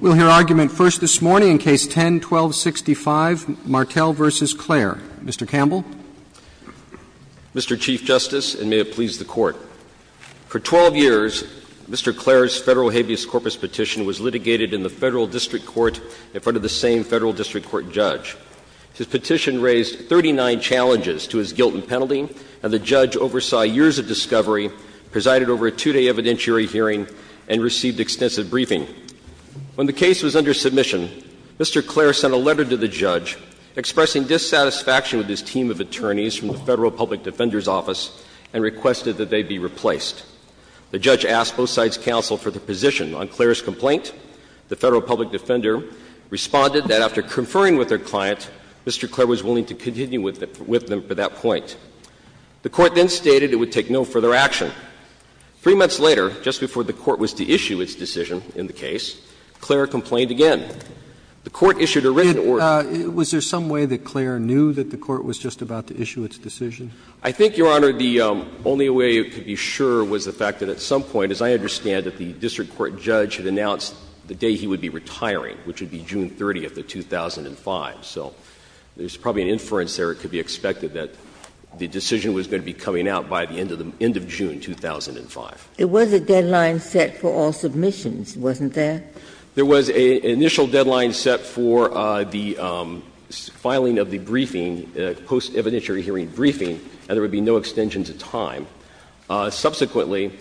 We'll hear argument first this morning in Case 10-1265, Martel v. Clair. Mr. Campbell. Mr. Chief Justice, and may it please the Court, for 12 years, Mr. Clair's Federal Habeas Corpus petition was litigated in the Federal District Court in front of the same Federal District Court judge. His petition raised 39 challenges to his guilt and penalty, and the judge oversaw years of discovery, presided over a two-day evidentiary hearing, and received extensive briefing. When the case was under submission, Mr. Clair sent a letter to the judge expressing dissatisfaction with his team of attorneys from the Federal Public Defender's Office and requested that they be replaced. The judge asked both sides' counsel for their position. On Clair's complaint, the Federal Public Defender responded that after conferring with their client, Mr. Clair was willing to continue with them for that point. The Court then stated it would take no further action. Three months later, just before the Court was to issue its decision in the case, Clair complained again. The Court issued a written order. Was there some way that Clair knew that the Court was just about to issue its decision? I think, Your Honor, the only way you could be sure was the fact that at some point, as I understand it, the district court judge had announced the day he would be retiring, which would be June 30th of 2005. So there's probably an inference there. It could be expected that the decision was going to be coming out by the end of the end of June, 2005. It was a deadline set for all submissions, wasn't there? There was an initial deadline set for the filing of the briefing, post-evidentiary hearing briefing, and there would be no extension to time. Subsequently,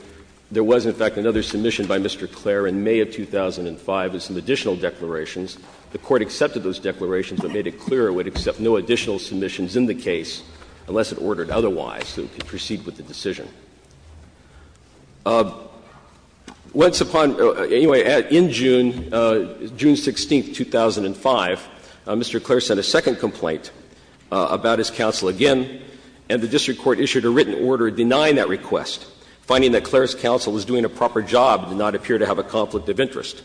there was, in fact, another submission by Mr. Clair in May of 2005 with some additional declarations. The Court accepted those declarations but made it clear it would accept no additional submissions in the case unless it ordered otherwise so it could proceed with the decision. Once upon anyway, in June, June 16th, 2005, Mr. Clair sent a second complaint about his counsel again, and the district court issued a written order denying that request, finding that Clair's counsel was doing a proper job and did not appear to have a conflict of interest.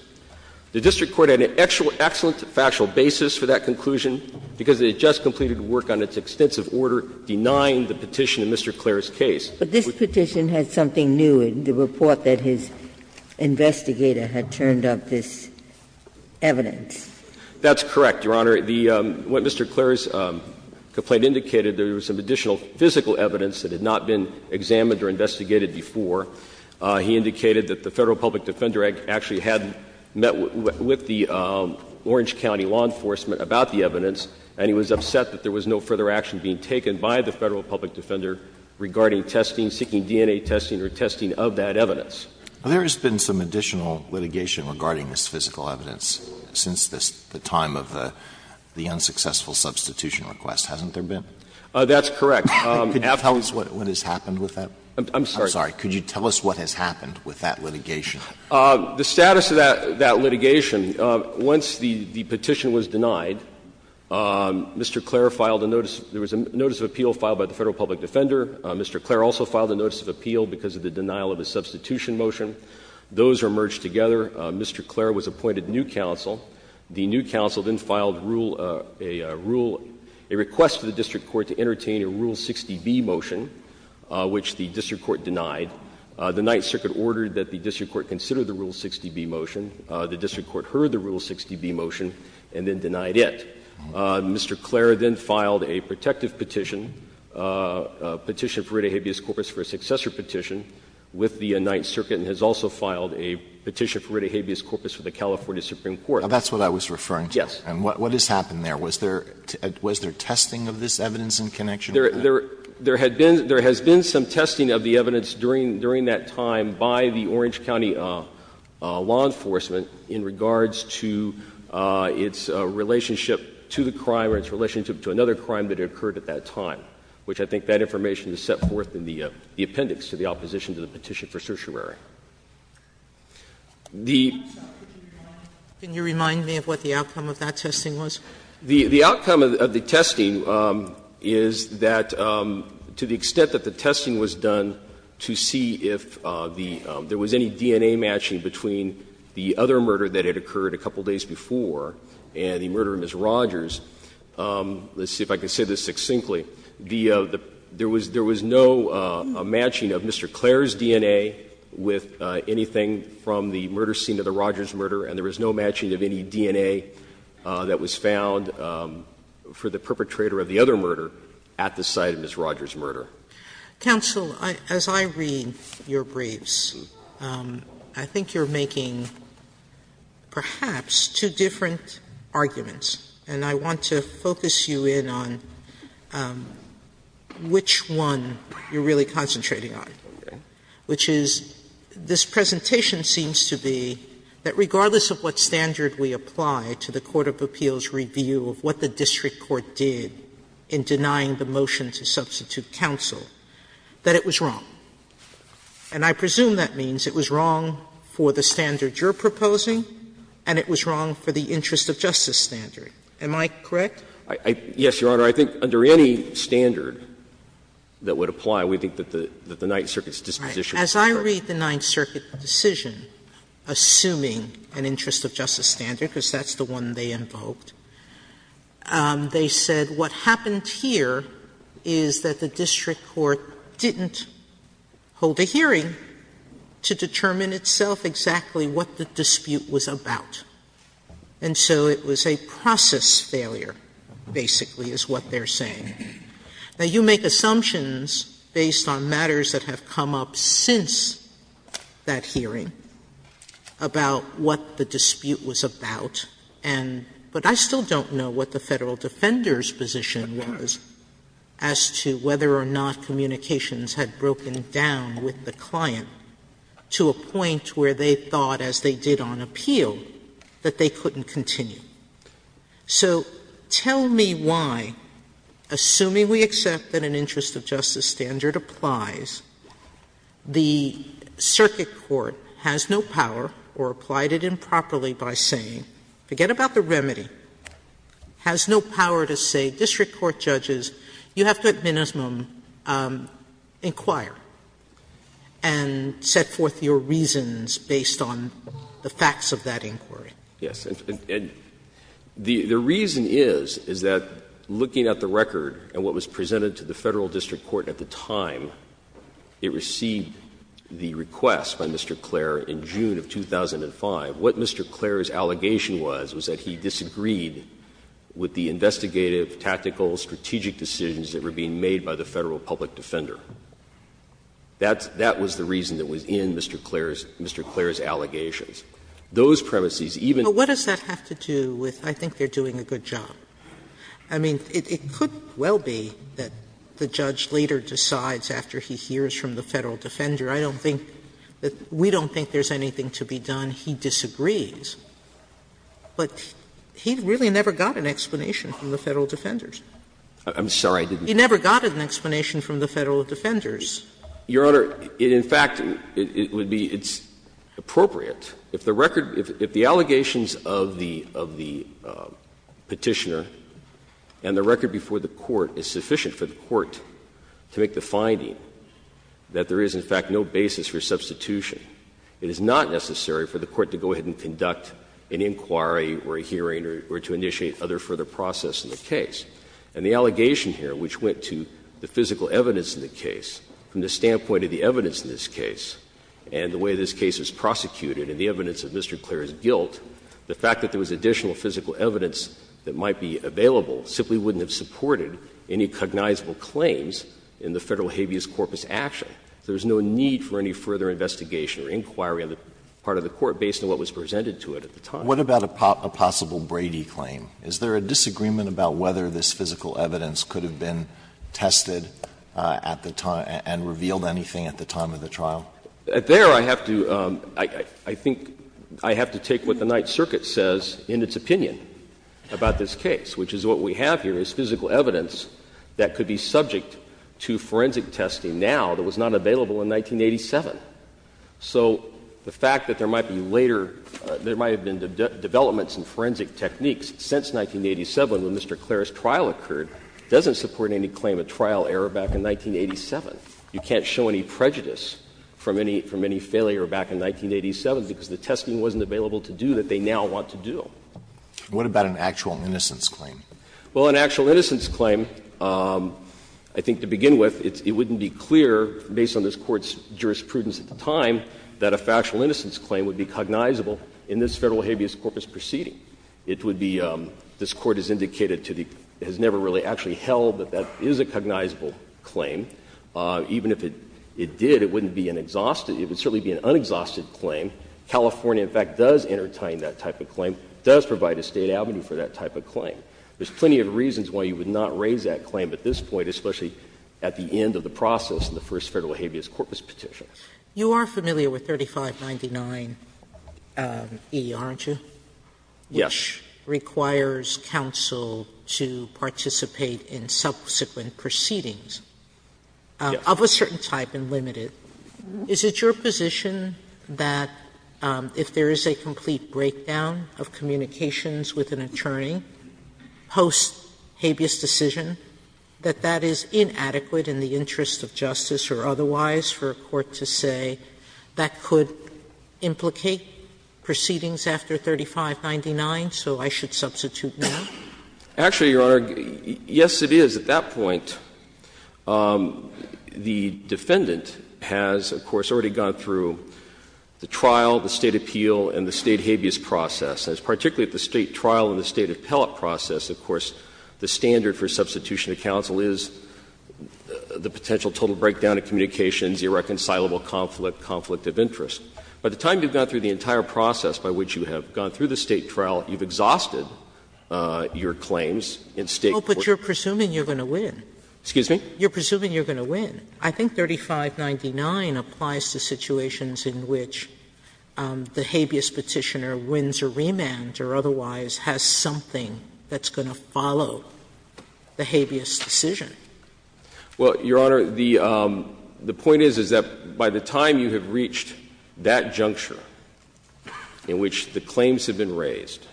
The district court had an excellent factual basis for that conclusion because it had just completed work on its extensive order denying the petition in Mr. Clair's case. Ginsburg. But this petition had something new in the report that his investigator had turned up this evidence. That's correct, Your Honor. What Mr. Clair's complaint indicated, there was some additional physical evidence that had not been examined or investigated before. He indicated that the Federal Public Defender Act actually had met with the Orange County law enforcement about the evidence, and he was upset that there was no further action being taken by the Federal Public Defender regarding testing, seeking DNA testing or testing of that evidence. There has been some additional litigation regarding this physical evidence since the time of the unsuccessful substitution request, hasn't there been? That's correct. Could you tell us what has happened with that? I'm sorry. Could you tell us what has happened with that litigation? The status of that litigation, once the petition was denied, Mr. Clair filed a notice of appeal filed by the Federal Public Defender. Mr. Clair also filed a notice of appeal because of the denial of a substitution motion. Those are merged together. Mr. Clair was appointed new counsel. The new counsel then filed a rule, a request to the district court to entertain a Rule 60b motion, which the district court denied. The Ninth Circuit ordered that the district court consider the Rule 60b motion. The district court heard the Rule 60b motion and then denied it. Mr. Clair then filed a protective petition, a petition for writ habeas corpus for a successor petition with the Ninth Circuit and has also filed a petition for writ habeas corpus with the California Supreme Court. Now, that's what I was referring to. Yes. And what has happened there? Was there testing of this evidence in connection with that? There had been — there has been some testing of the evidence during that time by the Orange County law enforcement in regards to its relationship to the crime or its relationship to another crime that occurred at that time, which I think that information is set forth in the appendix to the opposition to the petition for certiorari. The — Can you remind me of what the outcome of that testing was? The outcome of the testing is that to the extent that the testing was done to see if the — there was any DNA matching between the other murder that had occurred a couple of days before and the murder of Ms. Rogers, let's see if I can say this succinctly, the — there was no matching of Mr. Clair's DNA with anything from the murder scene of the Rogers murder and there was no matching of any DNA that was found for the perpetrator of the other murder at the site of Ms. Rogers' murder. Sotomayor, as I read your briefs, I think you're making perhaps two different arguments, and I want to focus you in on which one you're really concentrating on, which is this presentation seems to be that regardless of what standard we apply to the court of appeals review of what the district court did in denying the motion to substitute counsel, that it was wrong. And I presume that means it was wrong for the standard you're proposing and it was wrong for the interest of justice standard. Am I correct? Yes, Your Honor. I think under any standard that would apply, we think that the Ninth Circuit's disposition was correct. As I read the Ninth Circuit decision, assuming an interest of justice standard, because that's the one they invoked, they said what happened here is that the district court didn't hold a hearing to determine itself exactly what the dispute was about. And so it was a process failure, basically, is what they're saying. Now, you make assumptions based on matters that have come up since that hearing about what the dispute was about, and but I still don't know what the Federal Defender's position was as to whether or not communications had broken down with the client to a point where they thought, as they did on appeal, that they couldn't continue. So tell me why, assuming we accept that an interest of justice standard applies, the circuit court has no power or applied it improperly by saying, forget about the remedy, has no power to say, district court judges, you have to at minimum inquire and set forth your reasons based on the facts of that inquiry. Yes. And the reason is, is that looking at the record and what was presented to the Federal District Court at the time, it received the request by Mr. Clair in June of 2005. What Mr. Clair's allegation was, was that he disagreed with the investigative, tactical, strategic decisions that were being made by the Federal public defender. That's the reason that was in Mr. Clair's allegations. Those premises, even if they're not in the district court, they're not in the district court. Sotomayor, the judge later decides after he hears from the Federal defender, I don't think that we don't think there's anything to be done, he disagrees. But he really never got an explanation from the Federal defenders. I'm sorry, I didn't get that. He never got an explanation from the Federal defenders. Your Honor, in fact, it would be, it's appropriate, if the record, if the allegations of the, of the Petitioner and the record before the court is sufficient for the court to make the finding that there is, in fact, no basis for substitution. It is not necessary for the court to go ahead and conduct an inquiry or a hearing or to initiate other further process in the case. And the allegation here, which went to the physical evidence in the case, from the standpoint of the evidence in this case and the way this case was prosecuted and the evidence of Mr. Clair's guilt, the fact that there was additional physical evidence that might be available simply wouldn't have supported any cognizable claims in the Federal habeas corpus action. There's no need for any further investigation or inquiry on the part of the court based on what was presented to it at the time. Alito, what about a possible Brady claim? Is there a disagreement about whether this physical evidence could have been tested at the time and revealed anything at the time of the trial? There, I have to, I think, I have to take what the Ninth Circuit says in its opinion about this case, which is what we have here is physical evidence that could be supported and subject to forensic testing now that was not available in 1987. So the fact that there might be later, there might have been developments in forensic techniques since 1987 when Mr. Clair's trial occurred doesn't support any claim of trial error back in 1987. You can't show any prejudice from any failure back in 1987 because the testing wasn't available to do that they now want to do. What about an actual innocence claim? Well, an actual innocence claim, I think to begin with, it wouldn't be clear based on this Court's jurisprudence at the time that a factual innocence claim would be cognizable in this Federal habeas corpus proceeding. It would be, this Court has indicated to the, has never really actually held that that is a cognizable claim. Even if it did, it wouldn't be an exhausted, it would certainly be an unexhausted claim. California, in fact, does entertain that type of claim, does provide a State avenue for that type of claim. There's plenty of reasons why you would not raise that claim at this point, especially at the end of the process in the first Federal habeas corpus petition. Sotomayor, you are familiar with 3599e, aren't you? Yes. Which requires counsel to participate in subsequent proceedings of a certain type and limited. Is it your position that if there is a complete breakdown of communications with an attorney post habeas decision, that that is inadequate in the interest of justice or otherwise for a court to say that could implicate proceedings after 3599, so I should substitute now? Actually, Your Honor, yes, it is. At that point, the defendant has, of course, already gone through the trial, the State appellate process, of course, the standard for substitution of counsel is the potential total breakdown of communications, irreconcilable conflict, conflict of interest. By the time you have gone through the entire process by which you have gone through the State trial, you have exhausted your claims in State court. Oh, but you are presuming you are going to win. Excuse me? You are presuming you are going to win. I think 3599 applies to situations in which the habeas petitioner wins a remand or otherwise has something that's going to follow the habeas decision. Well, Your Honor, the point is, is that by the time you have reached that juncture in which the claims have been raised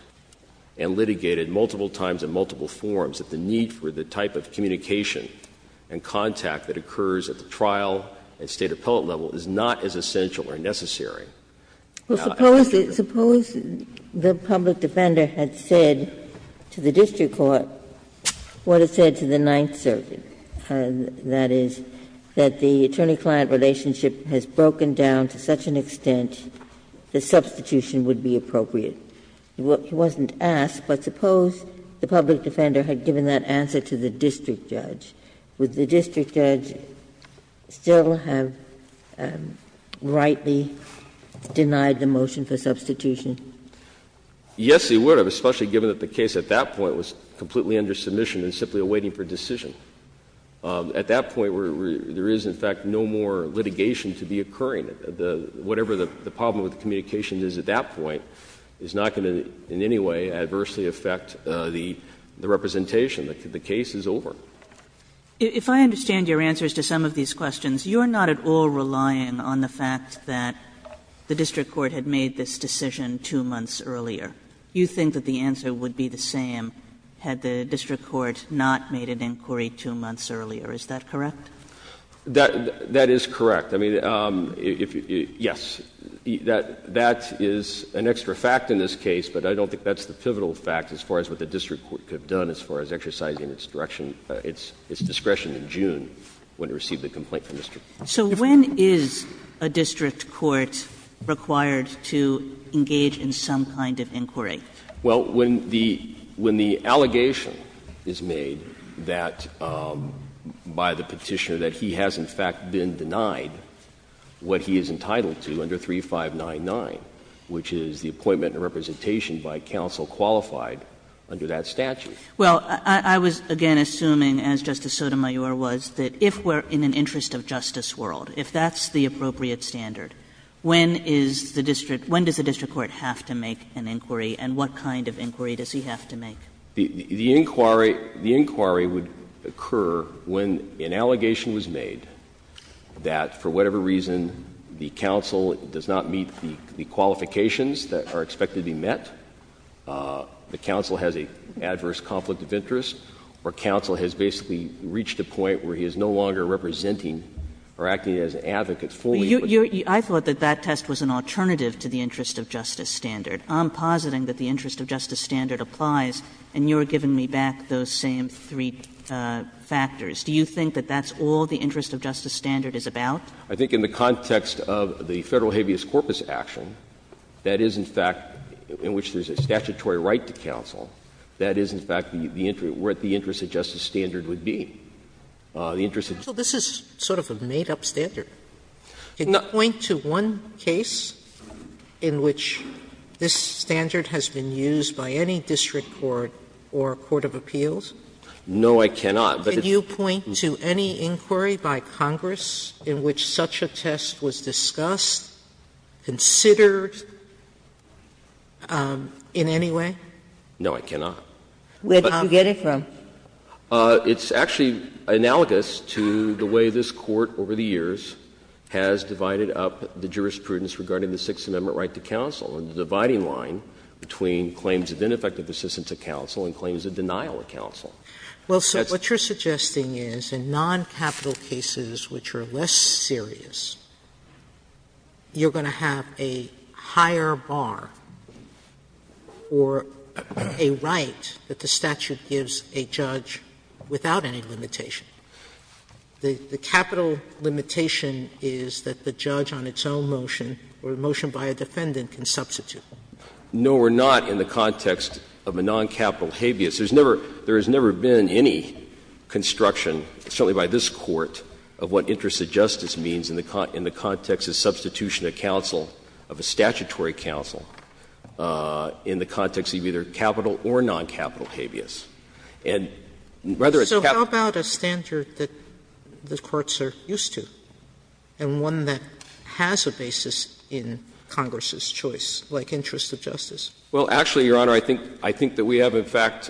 and litigated multiple times in multiple forms, that the need for the type of communication and contact that occurs at the trial and State appellate level is not as essential or necessary. Well, suppose the public defender had said to the district court what it said to the Ninth Circuit, and that is that the attorney-client relationship has broken down to such an extent that substitution would be appropriate. He wasn't asked, but suppose the public defender had given that answer to the district judge, would the district judge still have rightly denied the motion for substitution? Yes, he would have, especially given that the case at that point was completely under submission and simply awaiting for decision. At that point, there is, in fact, no more litigation to be occurring. Whatever the problem with the communication is at that point is not going to in any way adversely affect the representation. The case is over. If I understand your answers to some of these questions, you are not at all relying on the fact that the district court had made this decision 2 months earlier. You think that the answer would be the same had the district court not made an inquiry 2 months earlier. Is that correct? That is correct. I mean, yes, that is an extra fact in this case, but I don't think that's the pivotal fact as far as what the district court could have done as far as exercising its direction, its discretion in June when it received the complaint from the district. So when is a district court required to engage in some kind of inquiry? Well, when the allegation is made that, by the Petitioner, that he has, in fact, been denied what he is entitled to under 3599, which is the appointment and representation by counsel qualified under that statute. Well, I was, again, assuming, as Justice Sotomayor was, that if we are in an interest of justice world, if that's the appropriate standard, when is the district, when does the district court have to make an inquiry, and what kind of inquiry does he have to make? The inquiry would occur when an allegation was made that, for whatever reason, the counsel does not meet the qualifications that are expected to be met, the counsel has an adverse conflict of interest, or counsel has basically reached a point where he is no longer representing or acting as an advocate fully. I thought that that test was an alternative to the interest of justice standard. I'm positing that the interest of justice standard applies, and you are giving me back those same three factors. Do you think that that's all the interest of justice standard is about? I think in the context of the Federal habeas corpus action, that is, in fact, in which there is a statutory right to counsel, that is, in fact, the interest, what the interest of justice standard would be, the interest of justice standard. Sotomayor, this is sort of a made-up standard. Can you point to one case in which this standard has been used by any district court or court of appeals? No, I cannot. But it's the case in which such a test was discussed, considered, and, in fact, in any way? No, I cannot. Where did you get it from? It's actually analogous to the way this Court over the years has divided up the jurisprudence regarding the Sixth Amendment right to counsel and the dividing line between claims of ineffective assistance of counsel and claims of denial of counsel. Well, so what you are suggesting is in noncapital cases which are less serious, you are going to have a higher bar or a right that the statute gives a judge without any limitation. The capital limitation is that the judge on its own motion or a motion by a defendant can substitute. No, we are not in the context of a noncapital habeas. There has never been any construction, certainly by this Court, of what interest of justice means in the context of substitution of counsel, of a statutory counsel in the context of either capital or noncapital habeas. And rather it's capital. So how about a standard that the courts are used to and one that has a basis in Congress's choice, like interest of justice? Well, actually, Your Honor, I think that we have, in fact,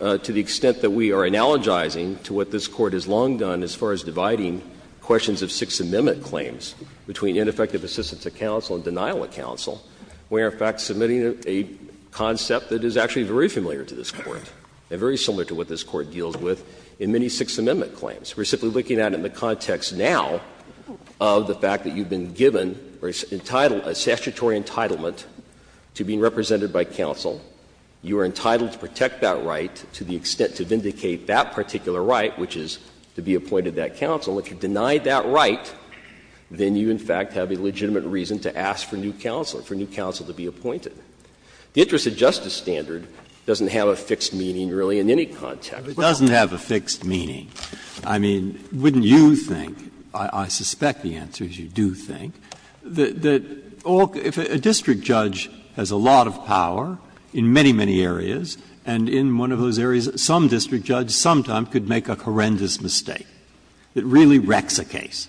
to the extent that we are analogizing to what this Court has long done as far as dividing questions of Sixth Amendment claims between ineffective assistance of counsel and denial of counsel, we are, in fact, submitting a concept that is actually very familiar to this Court and very similar to what this Court deals with in many Sixth Amendment claims. We are simply looking at it in the context now of the fact that you have been given or entitled, a statutory entitlement to be represented by counsel. You are entitled to protect that right to the extent to vindicate that particular right, which is to be appointed that counsel. If you deny that right, then you, in fact, have a legitimate reason to ask for new counsel, for new counsel to be appointed. The interest of justice standard doesn't have a fixed meaning, really, in any context. Breyer, doesn't have a fixed meaning. I mean, wouldn't you think, I suspect the answer is you do think, that all the – if there's a lot of power in many, many areas, and in one of those areas, some district judge sometime could make a horrendous mistake that really wrecks a case.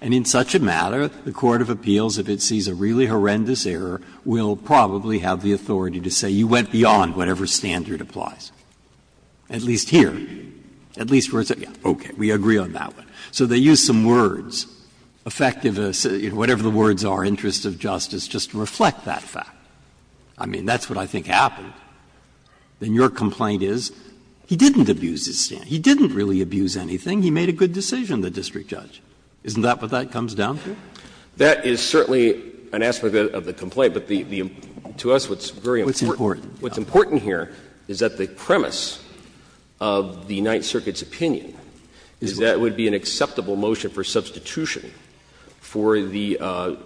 And in such a matter, the court of appeals, if it sees a really horrendous error, will probably have the authority to say you went beyond whatever standard applies, at least here, at least where it's at. Okay, we agree on that one. So they use some words, affectivists, whatever the words are, interest of justice, just to reflect that fact. I mean, that's what I think happened. Then your complaint is he didn't abuse his standard. He didn't really abuse anything. He made a good decision, the district judge. Isn't that what that comes down to? That is certainly an aspect of the complaint. But the – to us, what's very important. What's important here is that the premise of the Ninth Circuit's opinion is that it would be an acceptable motion for substitution for the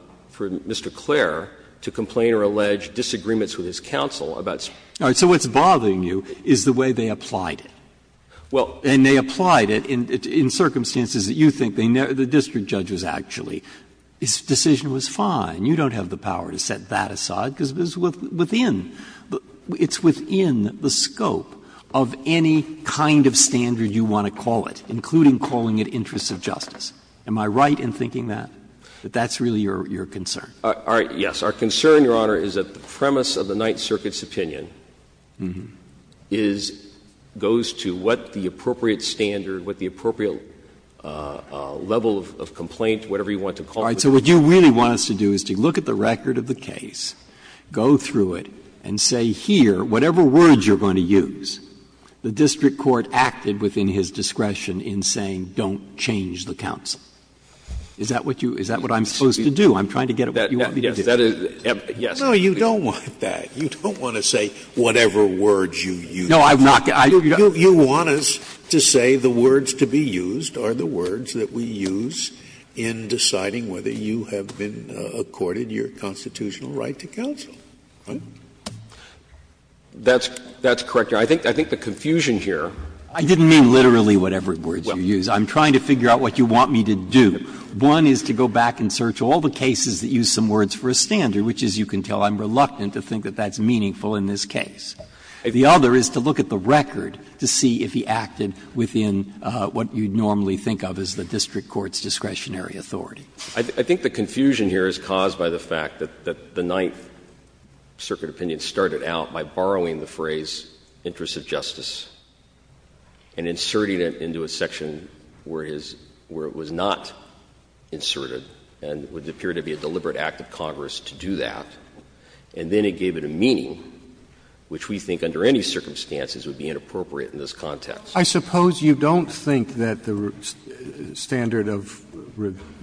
– for Mr. Clare. And I don't think it would be an acceptable motion for Mr. Clare to complain or allege disagreements with his counsel about something like that. Breyer, so what's bothering you is the way they applied it. Well, and they applied it in circumstances that you think they never – the district judge was actually – his decision was fine. You don't have the power to set that aside, because it's within – it's within the scope of any kind of standard you want to call it, including calling it interest of justice. Am I right in thinking that, that that's really your concern? All right. Our concern, Your Honor, is that the premise of the Ninth Circuit's opinion is – goes to what the appropriate standard, what the appropriate level of complaint, whatever you want to call it. All right. So what you really want us to do is to look at the record of the case, go through it, and say here, whatever words you're going to use, the district court acted within his discretion in saying, don't change the counsel. Is that what you – is that what I'm supposed to do? I'm trying to get at what you want me to do. Yes, that is – yes. No, you don't want that. You don't want to say whatever words you use. No, I'm not – I – you don't. You want us to say the words to be used are the words that we use in deciding whether you have been accorded your constitutional right to counsel, right? That's – that's correct, Your Honor. I think the confusion here. I didn't mean literally whatever words you use. I'm trying to figure out what you want me to do. One is to go back and search all the cases that use some words for a standard, which, as you can tell, I'm reluctant to think that that's meaningful in this case. The other is to look at the record to see if he acted within what you'd normally think of as the district court's discretionary authority. I think the confusion here is caused by the fact that the Ninth Circuit opinion started out by borrowing the phrase, interests of justice. And inserting it into a section where it is – where it was not inserted, and it would appear to be a deliberate act of Congress to do that. And then it gave it a meaning, which we think under any circumstances would be inappropriate in this context. Roberts. Roberts. I suppose you don't think that the standard of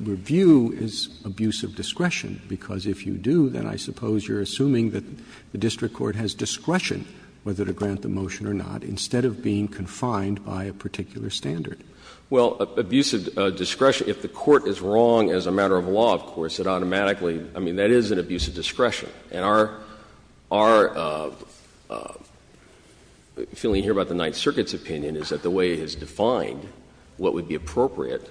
review is abuse of discretion, because if you do, then I suppose you're assuming that the district court has discretion whether to grant the motion or not, instead of being confined by a particular standard. Well, abuse of discretion – if the court is wrong as a matter of law, of course, it automatically – I mean, that is an abuse of discretion. And our – our feeling here about the Ninth Circuit's opinion is that the way it is defined, what would be appropriate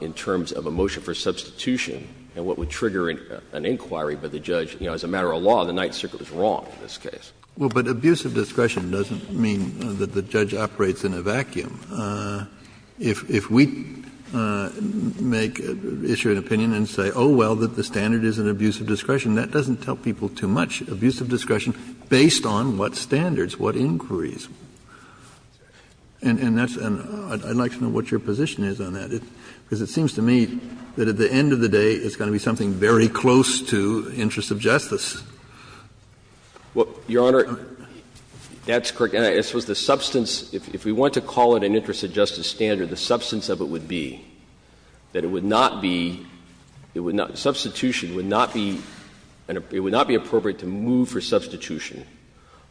in terms of a motion for substitution and what would trigger an inquiry by the judge – you know, as a matter of law, the Ninth Circuit was wrong in this case. Well, but abuse of discretion doesn't mean that the judge operates in a vacuum. If we make – issue an opinion and say, oh, well, that the standard is an abuse of discretion, that doesn't tell people too much. Abuse of discretion based on what standards, what inquiries. And that's – and I'd like to know what your position is on that, because it seems to me that at the end of the day, it's going to be something very close to interests of justice. Well, Your Honor, that's correct. And I suppose the substance – if we want to call it an interests of justice standard, the substance of it would be that it would not be – it would not – substitution would not be – it would not be appropriate to move for substitution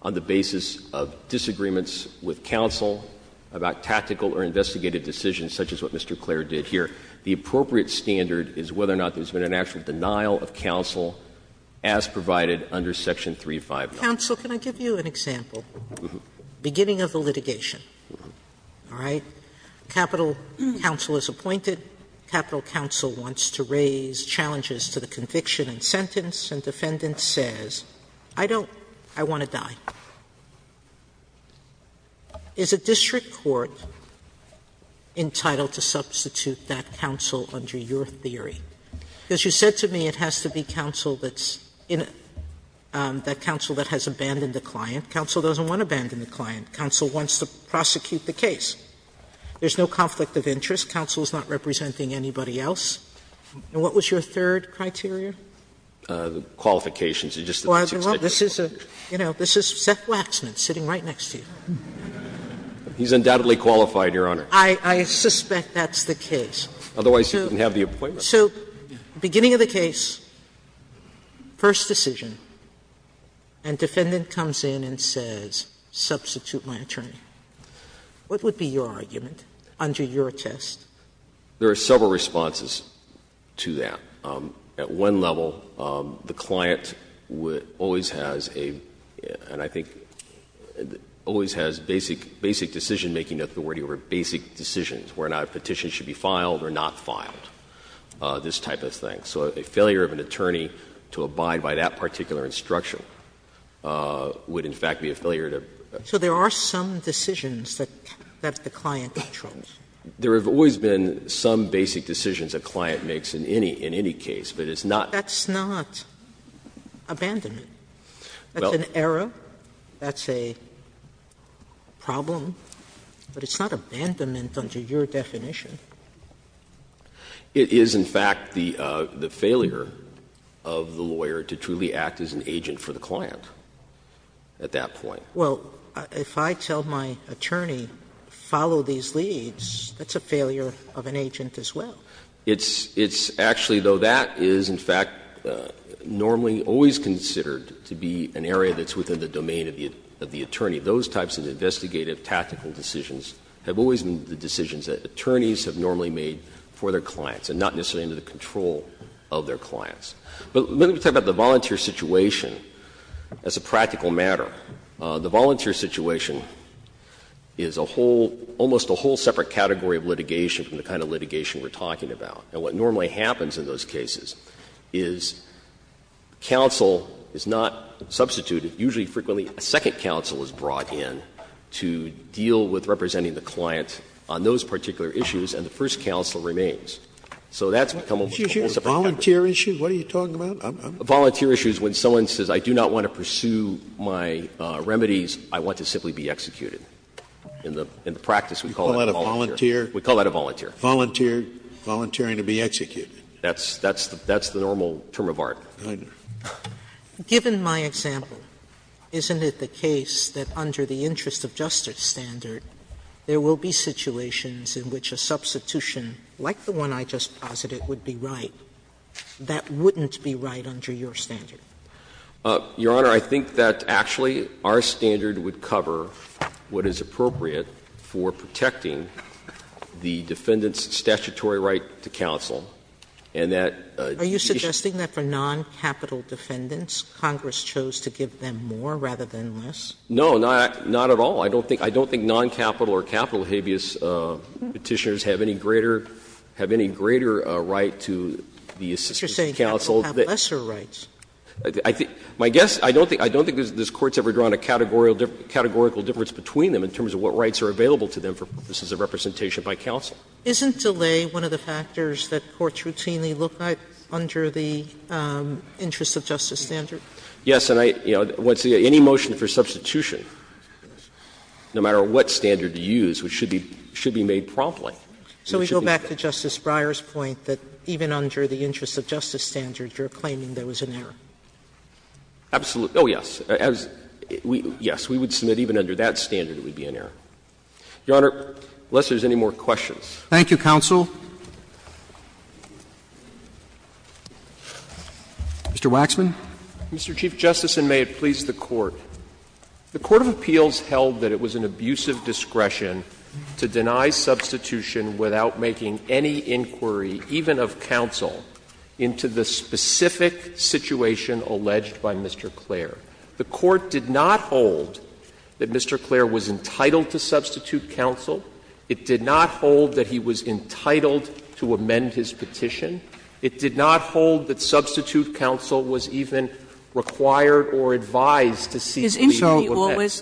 on the basis of disagreements with counsel about tactical or investigative decisions, such as what Mr. Clair did here. The appropriate standard is whether or not there's been an actual denial of counsel as provided under Section 359. Sotomayor, counsel, can I give you an example? Beginning of the litigation, all right, capital counsel is appointed, capital counsel wants to raise challenges to the conviction and sentence, and defendant says, I don't – I want to die. Is a district court entitled to substitute that counsel under your theory? Because you said to me it has to be counsel that's in – that counsel that has abandoned the client. Counsel doesn't want to abandon the client. Counsel wants to prosecute the case. There's no conflict of interest. Counsel is not representing anybody else. And what was your third criteria? Waxman. Well, this is a – you know, this is Seth Waxman sitting right next to you. He's undoubtedly qualified, Your Honor. I suspect that's the case. Otherwise, you wouldn't have the appointment. Sotomayor, so beginning of the case, first decision, and defendant comes in and says, substitute my attorney. What would be your argument under your test? There are several responses to that. At one level, the client always has a – and I think always has basic decision-making authority over basic decisions, whether or not a petition should be filed or not filed, this type of thing. So a failure of an attorney to abide by that particular instruction would, in fact, be a failure to – So there are some decisions that the client controls. There have always been some basic decisions a client makes in any case, but it's not – That's not abandonment. That's an error. That's a problem, but it's not abandonment under your definition. It is, in fact, the failure of the lawyer to truly act as an agent for the client at that point. Well, if I tell my attorney, follow these leads, that's a failure of an agent as well. It's actually, though, that is, in fact, normally always considered to be an area that's within the domain of the attorney. Those types of investigative, tactical decisions have always been the decisions that attorneys have normally made for their clients and not necessarily under the control of their clients. But let me talk about the volunteer situation as a practical matter. The volunteer situation is a whole – almost a whole separate category of litigation from the kind of litigation we're talking about. And what normally happens in those cases is counsel is not substituted. Usually, frequently, a second counsel is brought in to deal with representing the client on those particular issues, and the first counsel remains. So that's become almost a whole separate category. Scalia's volunteer issue, what are you talking about? A volunteer issue is when someone says I do not want to pursue my remedies, I want to simply be executed. In the practice, we call that a volunteer. We call that a volunteer. We call that a volunteer. Volunteer, volunteering to be executed. That's the normal term of art. Given my example, isn't it the case that under the interest of justice standard, there will be situations in which a substitution, like the one I just posited, would be right that wouldn't be right under your standard? Your Honor, I think that actually our standard would cover what is appropriate for protecting the defendant's statutory right to counsel, and that the issue Sotomayor, are you suggesting that for noncapital defendants, Congress chose to give them more rather than less? No, not at all. I don't think noncapital or capital habeas Petitioners have any greater right to be a substitute counsel. But you're saying that they have lesser rights. I think my guess, I don't think this Court has ever drawn a categorical difference between them in terms of what rights are available to them for purposes of representation by counsel. Isn't delay one of the factors that courts routinely look at under the interest of justice standard? Yes. And I, you know, any motion for substitution, no matter what standard you use, should be made promptly. So we go back to Justice Breyer's point that even under the interest of justice standard, you're claiming there was an error. Absolutely. Oh, yes. Yes, we would submit even under that standard it would be an error. Your Honor, unless there's any more questions. Thank you, counsel. Mr. Waxman. Mr. Chief Justice, and may it please the Court. The court of appeals held that it was an abusive discretion to deny substitution without making any inquiry, even of counsel, into the specific situation alleged by Mr. Clair. The court did not hold that Mr. Clair was entitled to substitute counsel. It did not hold that he was entitled to amend his petition. It did not hold that substitute counsel was even required or advised to seek the appeal of that.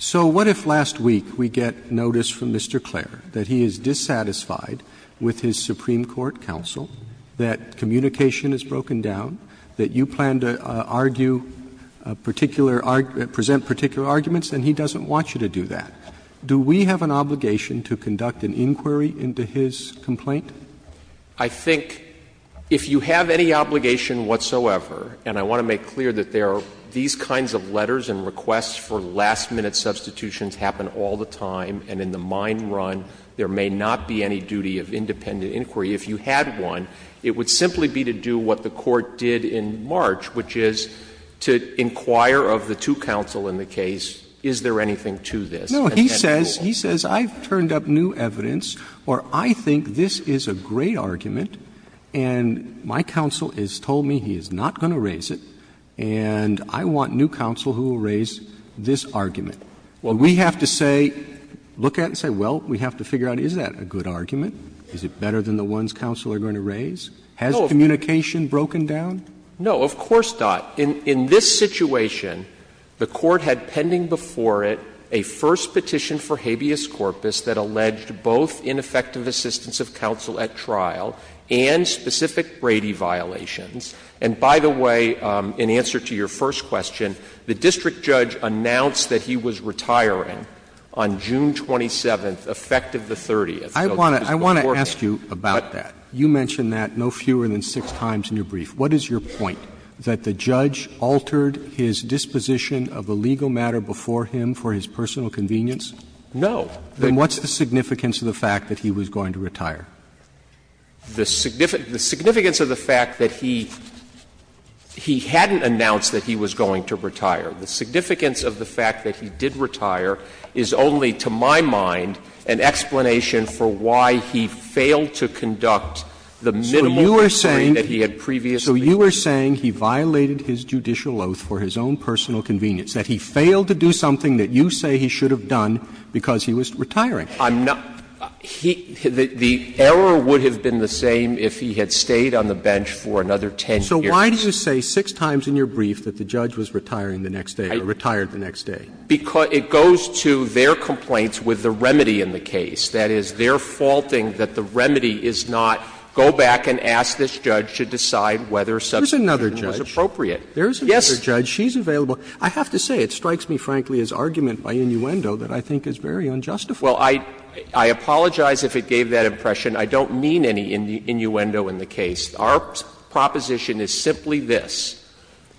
So what if last week we get notice from Mr. Clair that he is dissatisfied with his Supreme Court counsel, that communication is broken down, that you plan to argue particular argument, present particular arguments, and he doesn't want you to do that? Do we have an obligation to conduct an inquiry into his complaint? I think if you have any obligation whatsoever, and I want to make clear that there are these kinds of letters and requests for last-minute substitutions happen all the time, and in the mine run there may not be any duty of independent inquiry. If you had one, it would simply be to do what the court did in March, which is to inquire of the two counsel in the case, is there anything to this? And then rule. Roberts, he says, I've turned up new evidence, or I think this is a great argument, and my counsel has told me he is not going to raise it, and I want new counsel who will raise this argument. Well, we have to say, look at it and say, well, we have to figure out, is that a good argument? Is it better than the ones counsel are going to raise? Has communication broken down? Waxman, No, of course not. In this situation, the court had pending before it a first petition for habeas corpus that alleged both ineffective assistance of counsel at trial and specific Brady violations. And by the way, in answer to your first question, the district judge announced that he was retiring on June 27th, effective the 30th. So this is before him. Roberts, I want to ask you about that. You mentioned that no fewer than six times in your brief. What is your point? That the judge altered his disposition of a legal matter before him for his personal convenience? Waxman, No. Roberts, Then what's the significance of the fact that he was going to retire? Waxman, The significance of the fact that he hadn't announced that he was going to retire, the significance of the fact that he did retire is only, to my mind, an explanation for why he failed to conduct the minimal inquiry that he had previously done. Roberts, So you are saying he violated his judicial oath for his own personal convenience, that he failed to do something that you say he should have done because he was retiring. Waxman, I'm not he the error would have been the same if he had stayed on the bench for another 10 years. Roberts, So why do you say six times in your brief that the judge was retiring the next day or retired the next day? Waxman, It goes to their complaints with the remedy in the case. That is, they are faulting that the remedy is not go back and ask this judge to decide whether substitution was appropriate. Roberts, There is another judge. Waxman, Yes. Roberts, There is another judge. She is available. I have to say, it strikes me, frankly, as argument by innuendo that I think is very unjustified. Waxman, Well, I apologize if it gave that impression. I don't mean any innuendo in the case. Our proposition is simply this.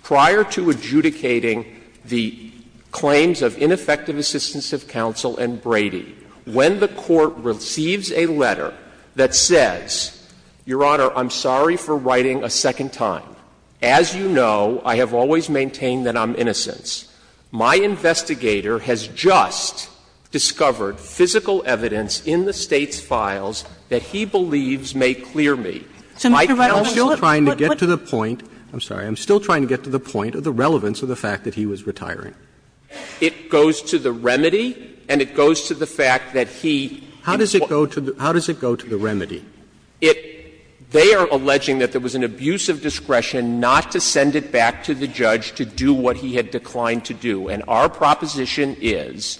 Prior to adjudicating the claims of ineffective assistance of counsel and Brady, when the Court receives a letter that says, Your Honor, I'm sorry for writing a second time, as you know, I have always maintained that I'm innocent, my investigator has just discovered physical evidence in the State's files that he believes may clear me. My counsel is trying to get to the point, I'm sorry, I'm still trying to get to the point of the relevance of the fact that he was retiring. Waxman, It goes to the remedy and it goes to the fact that he. Roberts, How does it go to the remedy? Waxman, They are alleging that there was an abuse of discretion not to send it back to the judge to do what he had declined to do. And our proposition is,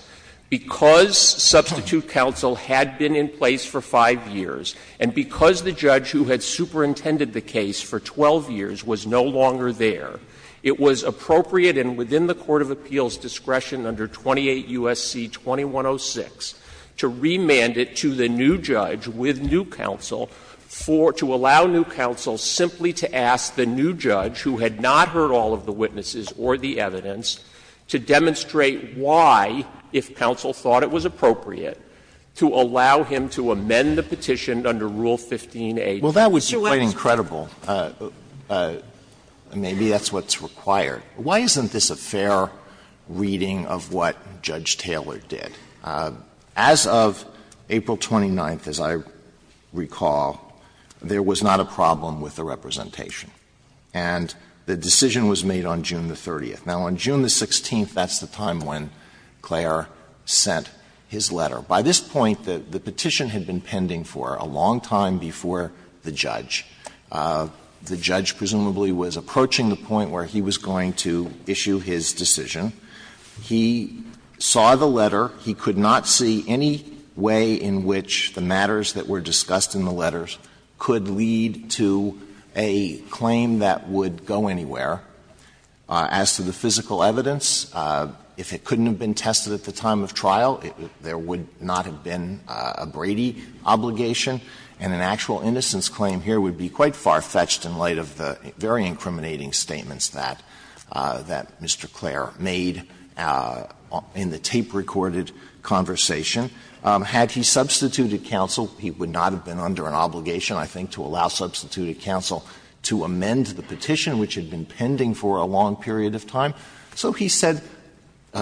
because substitute counsel had been in place for 5 years and because the judge who had superintended the case for 12 years was no longer there, it was appropriate and within the court of appeals discretion under 28 U.S.C. 2106 to remand it to the new judge with new counsel for, to allow new counsel simply to ask the new judge who had not heard all of the witnesses or the evidence to demonstrate why, if counsel thought it was appropriate, to allow him to amend the petition under Rule 15a. Alito, Well, that would be quite incredible. Maybe that's what's required. Why isn't this a fair reading of what Judge Taylor did? As of April 29th, as I recall, there was not a problem with the representation. And the decision was made on June 30th. Now, on June 16th, that's the time when Clare sent his letter. By this point, the petition had been pending for a long time before the judge. The judge presumably was approaching the point where he was going to issue his decision. He saw the letter. He could not see any way in which the matters that were discussed in the letters could lead to a claim that would go anywhere. As to the physical evidence, if it couldn't have been tested at the time of trial, there would not have been a Brady obligation, and an actual innocence claim here would be quite far-fetched in light of the very incriminating statements that Mr. Clare made in the tape-recorded conversation. Had he substituted counsel, he would not have been under an obligation, I think, to allow substituted counsel to amend the petition, which had been pending for a long period of time. So he said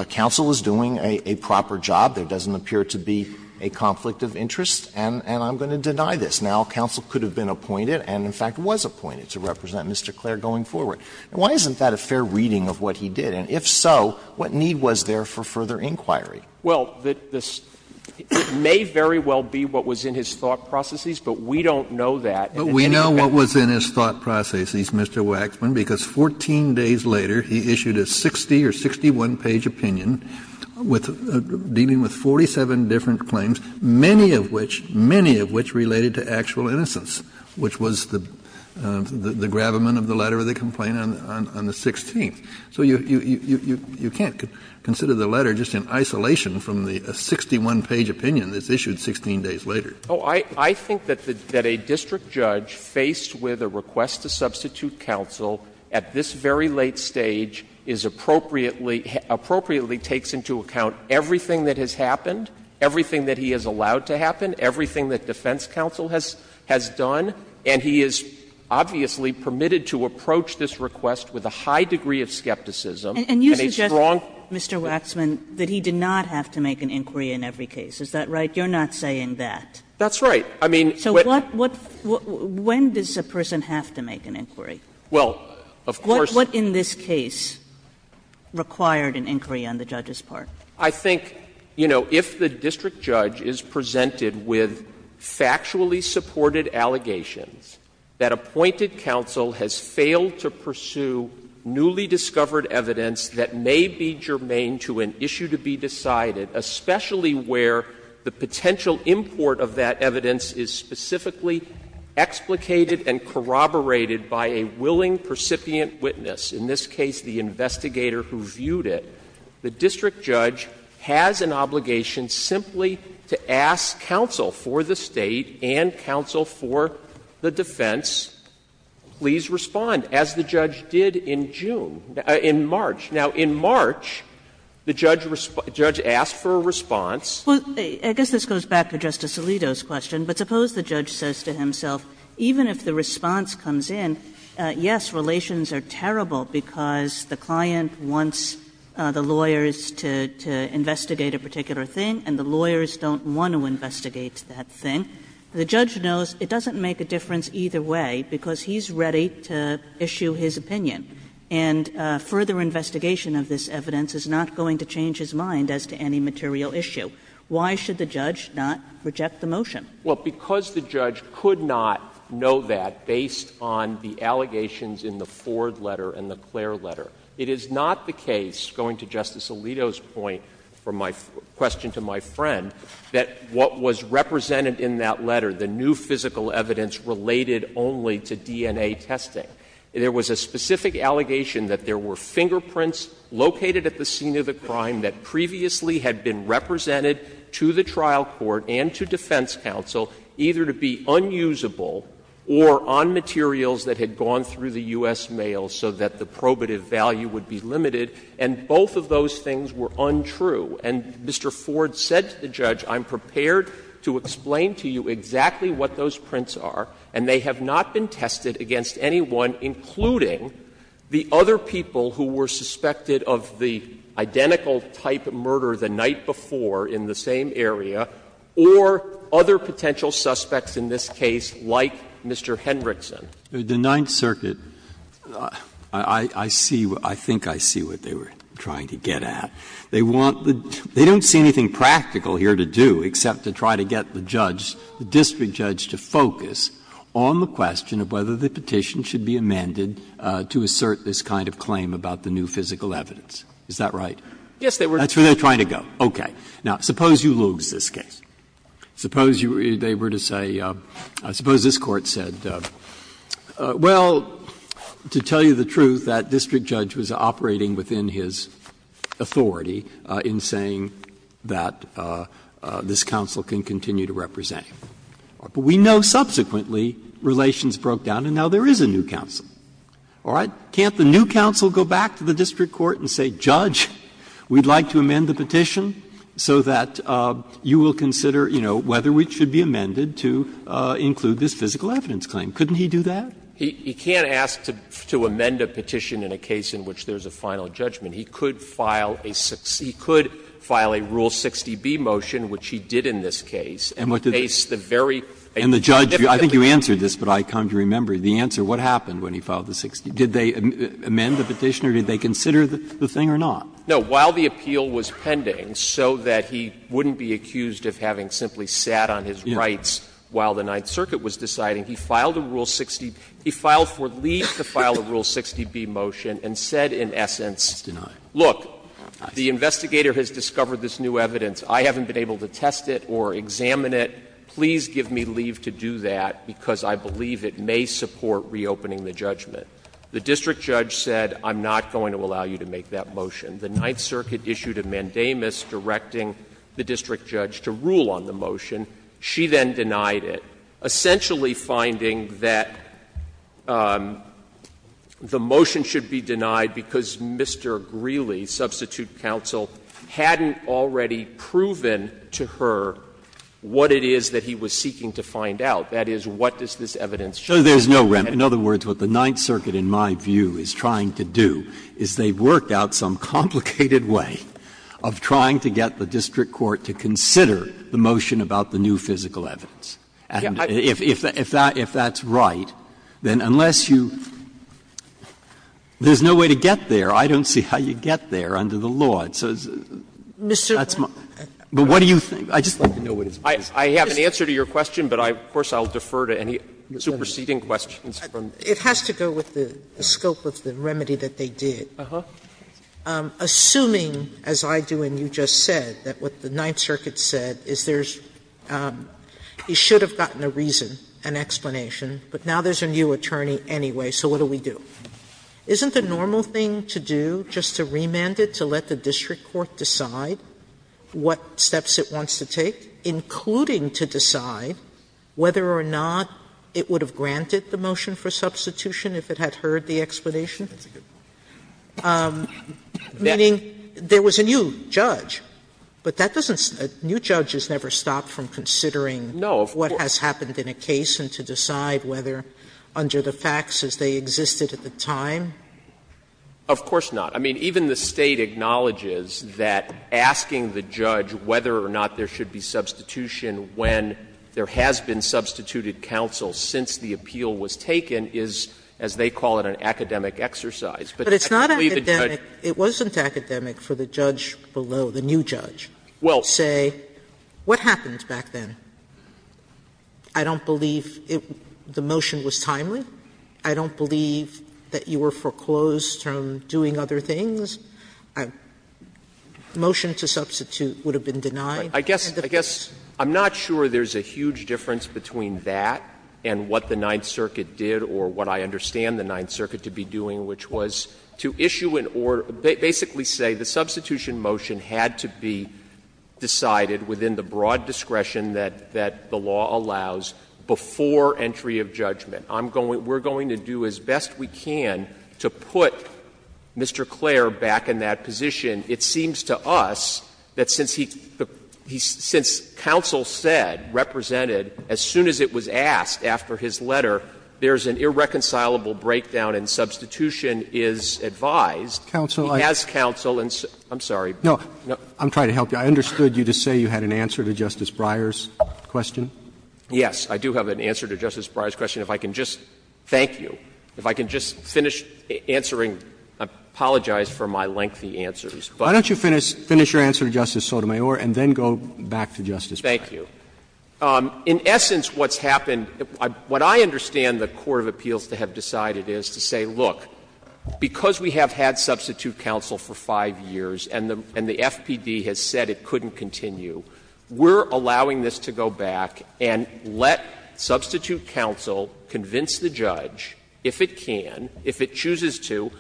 counsel was doing a proper job, there doesn't appear to be a conflict of interest, and I'm going to deny this. Now, counsel could have been appointed and, in fact, was appointed to represent Mr. Clare going forward. Why isn't that a fair reading of what he did? And if so, what need was there for further inquiry? Waxman, it may very well be what was in his thought processes, but we don't know that. Kennedy, we know what was in his thought processes, Mr. Waxman, because 14 days later he issued a 60- or 61-page opinion with — dealing with 47 different claims, many of which, many of which related to actual innocence, which was the gravamen of the letter of the complaint on the 16th. So you can't consider the letter just in isolation from the 61-page opinion that's issued 16 days later. Waxman, I think that a district judge faced with a request to substitute counsel at this very late stage is appropriately — appropriately takes into account everything that has happened, everything that he has allowed to happen, everything that defense counsel has done, and he is obviously permitted to approach this request with a high degree of skepticism and a strong — And you suggest, Mr. Waxman, that he did not have to make an inquiry in every case. Is that right? You're not saying that. That's right. I mean — So what — when does a person have to make an inquiry? Well, of course — What in this case required an inquiry on the judge's part? I think, you know, if the district judge is presented with factually supported allegations that appointed counsel has failed to pursue newly discovered evidence that may be germane to an issue to be decided, especially where the potential import of that evidence is specifically explicated and corroborated by a willing percipient witness, in this case the investigator who viewed it, the district judge has an obligation simply to ask counsel for the State and counsel for the defense, please respond, as the judge did in June — in March. Now, in March, the judge asked for a response. Well, I guess this goes back to Justice Alito's question, but suppose the judge says to himself, even if the response comes in, yes, relations are terrible because the client wants the lawyers to investigate a particular thing, and the lawyers don't want to investigate that thing. The judge knows it doesn't make a difference either way because he's ready to issue his opinion, and further investigation of this evidence is not going to change his mind as to any material issue. Why should the judge not reject the motion? Well, because the judge could not know that based on the allegations in the Ford letter and the Clare letter. It is not the case, going to Justice Alito's point, from my question to my friend, that what was represented in that letter, the new physical evidence related only to DNA testing. There was a specific allegation that there were fingerprints located at the scene of the crime that previously had been represented to the trial court and to defense counsel, either to be unusable or on materials that had gone through the U.S. mail so that the probative value would be limited, and both of those things were untrue. And Mr. Ford said to the judge, I'm prepared to explain to you exactly what those prints are, and they have not been tested against anyone, including the other people who were suspected of the identical type of murder the night before in the same area, or other potential suspects in this case like Mr. Hendrickson. The Ninth Circuit, I see, I think I see what they were trying to get at. They want the — they don't see anything practical here to do except to try to get the judge, the district judge, to focus on the question of whether the petition should be amended to assert this kind of claim about the new physical evidence. Is that right? Yes, they were. That's where they're trying to go. Okay. Now, suppose you lose this case. Suppose you — they were to say — I suppose this Court said, well, to tell you the truth, that district judge was operating within his authority in saying that this counsel can continue to represent him. But we know subsequently relations broke down, and now there is a new counsel. All right? Can't the new counsel go back to the district court and say, Judge, we'd like to amend the petition so that you will consider, you know, whether it should be amended to include this physical evidence claim? Couldn't he do that? He can't ask to amend a petition in a case in which there's a final judgment. He could file a Rule 60b motion, which he did in this case, and base the verdict on the fact that he was a very, a very significant defendant. And the judge — I think you answered this, but I come to remember the answer. What happened when he filed the 60 — did they amend the petition, or did they consider the thing or not? No. While the appeal was pending, so that he wouldn't be accused of having simply sat on his rights while the Ninth Circuit was deciding, he filed a Rule 60 — he filed for leave to file a Rule 60b motion and said, in essence, look, the investigator has discovered this new evidence. I haven't been able to test it or examine it. Please give me leave to do that, because I believe it may support reopening the judgment. The district judge said, I'm not going to allow you to make that motion. The Ninth Circuit issued a mandamus directing the district judge to rule on the motion. She then denied it, essentially finding that the motion should be denied because Mr. Greeley, substitute counsel, hadn't already proven to her what it is that he was seeking to find out, that is, what does this evidence show? No, there's no remedy. In other words, what the Ninth Circuit, in my view, is trying to do is they've worked out some complicated way of trying to get the district court to consider the motion about the new physical evidence. And if that's right, then unless you — there's no way to get there. I don't see how you get there under the law. So that's my — but what do you think? I'd just like to know what his view is. I have an answer to your question, but of course I'll defer to any superseding questions from the Court. It has to go with the scope of the remedy that they did. Uh-huh. Assuming, as I do and you just said, that what the Ninth Circuit said is there's a new judge, he should have gotten a reason, an explanation, but now there's a new attorney anyway, so what do we do? Isn't the normal thing to do just to remand it to let the district court decide what steps it wants to take, including to decide whether or not it would have granted the motion for substitution if it had heard the explanation? Meaning there was a new judge, but that doesn't — a new judge is never stopped from considering what has happened in a case and to decide whether, under the facts, as they existed at the time? Of course not. I mean, even the State acknowledges that asking the judge whether or not there should be substitution when there has been substituted counsel since the appeal was taken is, as they call it, an academic exercise. But I believe the judge But it's not academic. It wasn't academic for the judge below, the new judge, to say, what happened back then? I don't believe the motion was timely. I don't believe that you were foreclosed from doing other things. Motion to substitute would have been denied. I guess I'm not sure there's a huge difference between that and what the Ninth Circuit did or what I understand the Ninth Circuit to be doing, which was to issue an order — basically say the substitution motion had to be decided within the broad discretion that the law allows before entry of judgment. We're going to do as best we can to put Mr. Clare back in that position. It seems to us that since he — since counsel said, represented, as soon as it was asked after his letter, there's an irreconcilable breakdown and substitution is advised, he has counsel and — I'm sorry. Roberts. No. I'm trying to help you. I understood you to say you had an answer to Justice Breyer's question. Yes. I do have an answer to Justice Breyer's question. If I can just — thank you. If I can just finish answering — I apologize for my lengthy answers, but — Why don't you finish your answer to Justice Sotomayor and then go back to Justice Breyer. Thank you. In essence, what's happened — what I understand the court of appeals to have decided is to say, look, because we have had substitute counsel for five years and the FPD has said it couldn't continue, we're allowing this to go back and let substitute counsel convince the judge, if it can, if it chooses to,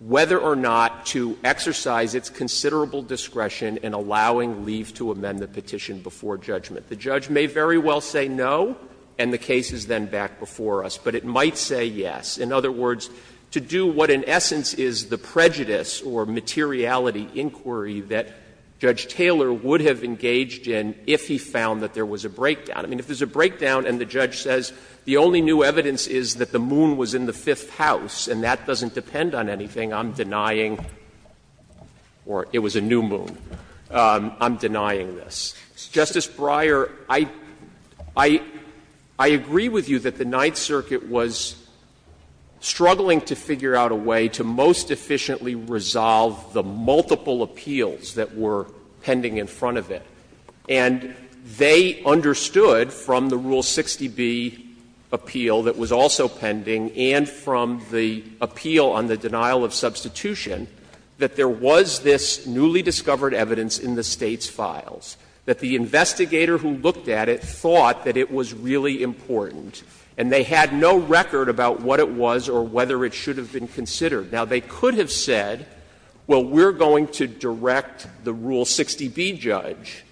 whether or not to exercise its considerable discretion in allowing Leif to amend the petition before judgment. The judge may very well say no, and the case is then back before us, but it might say yes. In other words, to do what in essence is the prejudice or materiality inquiry that Judge Taylor would have engaged in if he found that there was a breakdown. I mean, if there's a breakdown and the judge says the only new evidence is that the moon was in the Fifth House and that doesn't depend on anything, I'm denying — or it was a new moon — I'm denying this. Justice Breyer, I — I — I agree with you that the Ninth Circuit was struggling to figure out a way to most efficiently resolve the multiple appeals that were pending in front of it. And they understood from the Rule 60b appeal that was also pending and from the appeal on the denial of substitution that there was this newly discovered evidence in the State's files, that the investigator who looked at it thought that it was really important, and they had no record about what it was or whether it should have been considered. Now, they could have said, well, we're going to direct the Rule 60b judge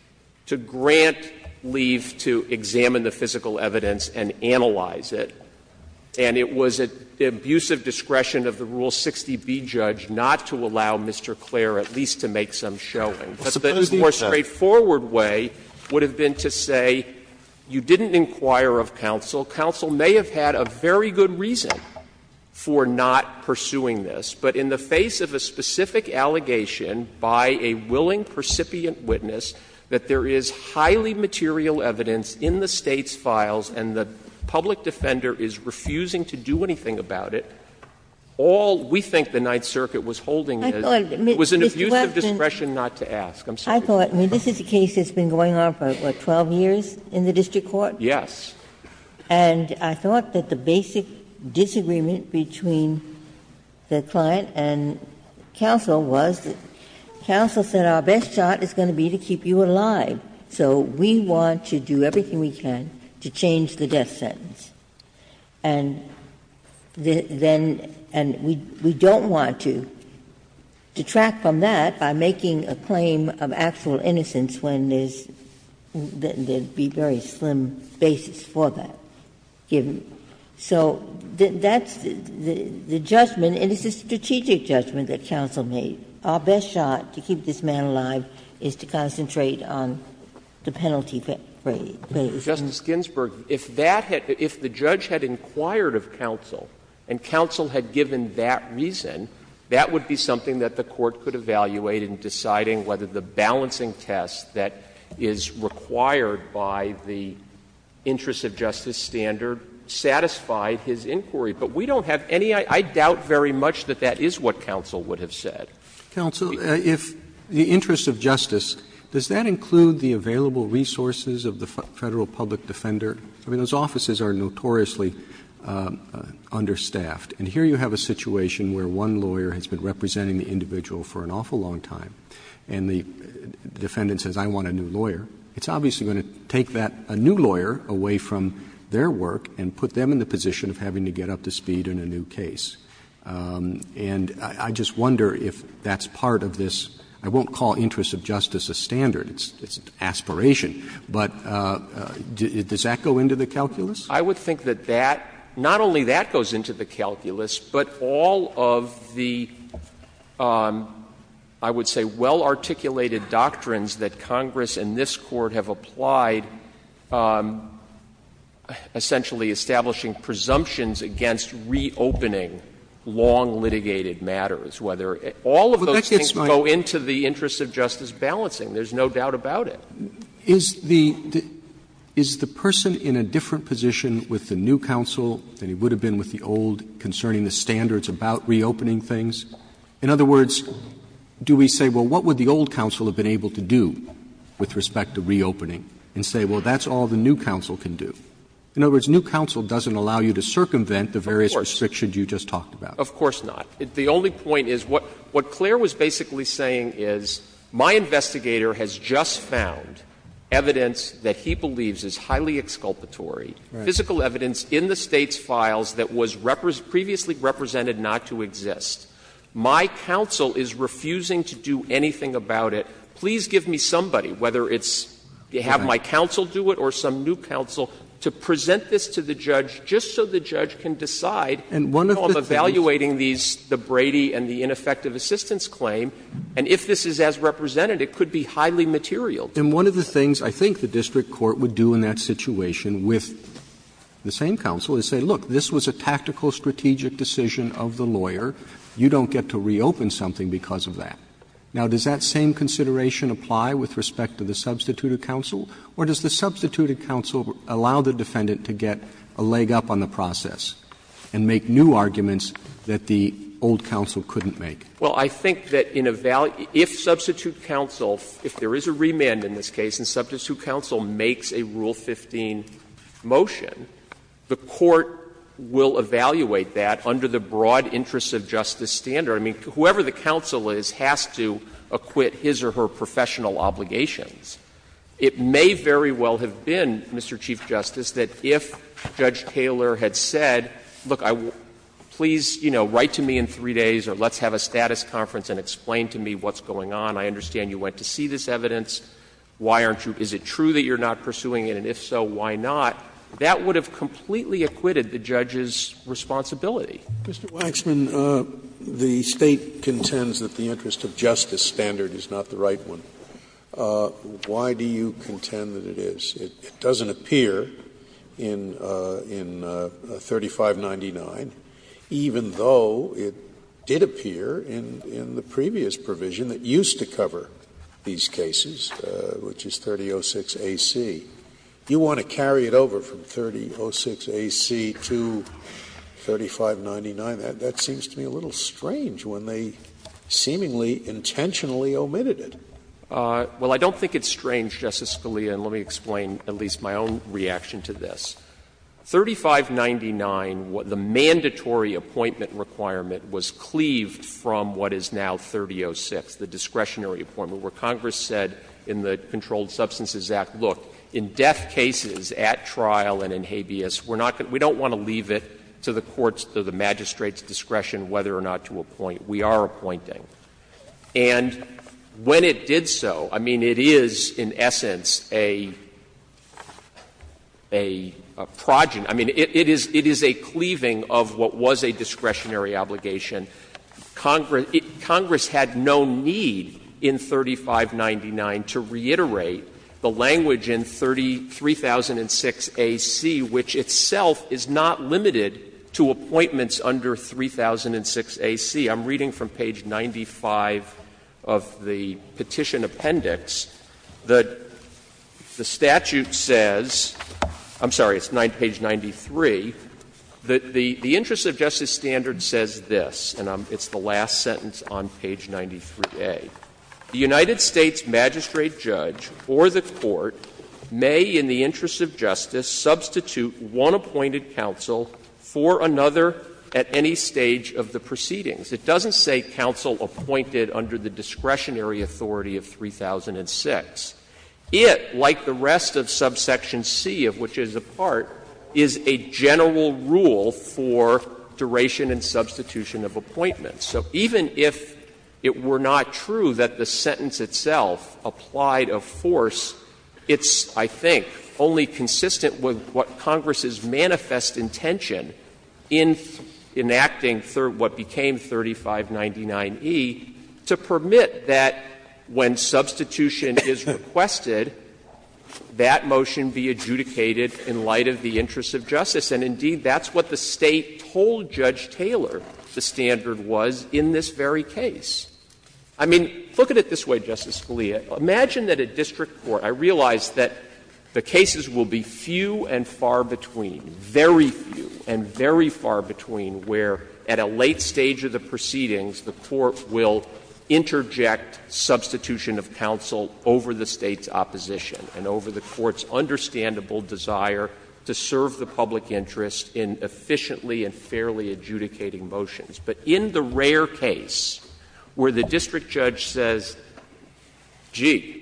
to grant leave to examine the physical evidence and analyze it, and it was at the abusive discretion of the Rule 60b judge not to allow Mr. Clair at least to make some showing. But the more straightforward way would have been to say, you didn't inquire of course about this, but you did inquire of counsel, counsel may have had a very good reason for not pursuing this. But in the face of a specific allegation by a willing, percipient witness, that there is highly material evidence in the State's files and the public defender is refusing to do anything about it, all we think the Ninth Circuit was holding — I thought — I'm sorry. This is a case that's been going on for, what, 12 years in the district court? Yes. And I thought that the basic disagreement between the client and counsel was that counsel said our best shot is going to be to keep you alive, so we want to do everything we can to change the death sentence. And then — and we don't want to detract from that by making a claim of actual innocence when there's — there would be very slim basis for that. So that's the judgment, and it's a strategic judgment that counsel made. Our best shot to keep this man alive is to concentrate on the penalty base. Justice Ginsburg, if that had — if the judge had inquired of counsel and counsel had given that reason, that would be something that the court could evaluate in deciding whether the balancing test that is required by the interest of justice standard satisfied his inquiry. But we don't have any — I doubt very much that that is what counsel would have said. Counsel, if the interest of justice, does that include the available resources of the Federal public defender? I mean, those offices are notoriously understaffed. And here you have a situation where one lawyer has been representing the individual for an awful long time, and the defendant says, I want a new lawyer. It's obviously going to take that — a new lawyer away from their work and put them in the position of having to get up to speed in a new case. And I just wonder if that's part of this — I won't call interest of justice a standard. It's an aspiration. But does that go into the calculus? I would think that that — not only that goes into the calculus, but all of the, I would say, well-articulated doctrines that Congress and this Court have applied essentially establishing presumptions against reopening long-litigated matters, whether — all of those things go into the interest of justice balancing. There's no doubt about it. Roberts. Is the — is the person in a different position with the new counsel than he would have been with the old concerning the standards about reopening things? In other words, do we say, well, what would the old counsel have been able to do with respect to reopening, and say, well, that's all the new counsel can do? In other words, new counsel doesn't allow you to circumvent the various restrictions you just talked about. Of course not. The only point is what Claire was basically saying is my investigator has just found evidence that he believes is highly exculpatory, physical evidence in the State's files that was previously represented not to exist. My counsel is refusing to do anything about it. Please give me somebody, whether it's — have my counsel do it or some new counsel to present this to the judge just so the judge can decide how I'm evaluating these — the Brady and the ineffective assistance claim. And if this is as represented, it could be highly material. And one of the things I think the district court would do in that situation with the same counsel is say, look, this was a tactical strategic decision of the lawyer. You don't get to reopen something because of that. Now, does that same consideration apply with respect to the substituted counsel? Or does the substituted counsel allow the defendant to get a leg up on the process and make new arguments that the old counsel couldn't make? Well, I think that in a — if substituted counsel, if there is a remand in this case and substituted counsel makes a Rule 15 motion, the court will evaluate that under the broad interests of justice standard. I mean, whoever the counsel is has to acquit his or her professional obligations. It may very well have been, Mr. Chief Justice, that if Judge Taylor had said, look, please, you know, write to me in 3 days or let's have a status conference and explain to me what's going on. I understand you went to see this evidence. Why aren't you — is it true that you're not pursuing it? And if so, why not? That would have completely acquitted the judge's responsibility. Scalia. Mr. Waxman, the State contends that the interest of justice standard is not the right one. Why do you contend that it is? It doesn't appear in — in 3599, even though it did appear in — in the previous provision that used to cover these cases, which is 3006 AC. You want to carry it over from 3006 AC to 3599? That seems to me a little strange when they seemingly intentionally omitted it. Well, I don't think it's strange, Justice Scalia, and let me explain at least my own reaction to this. 3599, the mandatory appointment requirement was cleaved from what is now 3006, the discretionary appointment, where Congress said in the Controlled Substances Act, look, in death cases at trial and in habeas, we're not going to — we don't want to leave it to the court's, to the magistrate's discretion whether or not to appoint. We are appointing. And when it did so, I mean, it is in essence a — a progeny — I mean, it is a cleaving of what was a discretionary obligation. Congress had no need in 3599 to reiterate the language in 3006 AC, which itself is not limited to appointments under 3006 AC. I'm reading from page 95 of the Petition Appendix that the statute says — I'm sorry, it's page 93 — that the interest of justice standard says this, and it's the last sentence on page 93A. The United States magistrate judge or the court may in the interest of justice substitute one appointed counsel for another at any stage of the proceedings. It doesn't say counsel appointed under the discretionary authority of 3006. It, like the rest of subsection C, of which it is a part, is a general rule for duration and substitution of appointments. So even if it were not true that the sentence itself applied a force, it's, I think, only consistent with what Congress's manifest intention in enacting what became 3599E to permit that when substitution is requested, that motion be adjudicated in light of the interests of justice. And indeed, that's what the State told Judge Taylor the standard was in this very case. I mean, look at it this way, Justice Scalia. Imagine that a district court — I realize that the cases will be few and far between, very few and very far between, where at a late stage of the proceedings, the court will interject substitution of counsel over the State's opposition and over the court's understandable desire to serve the public interest in efficiently and fairly adjudicating motions. But in the rare case where the district judge says, gee,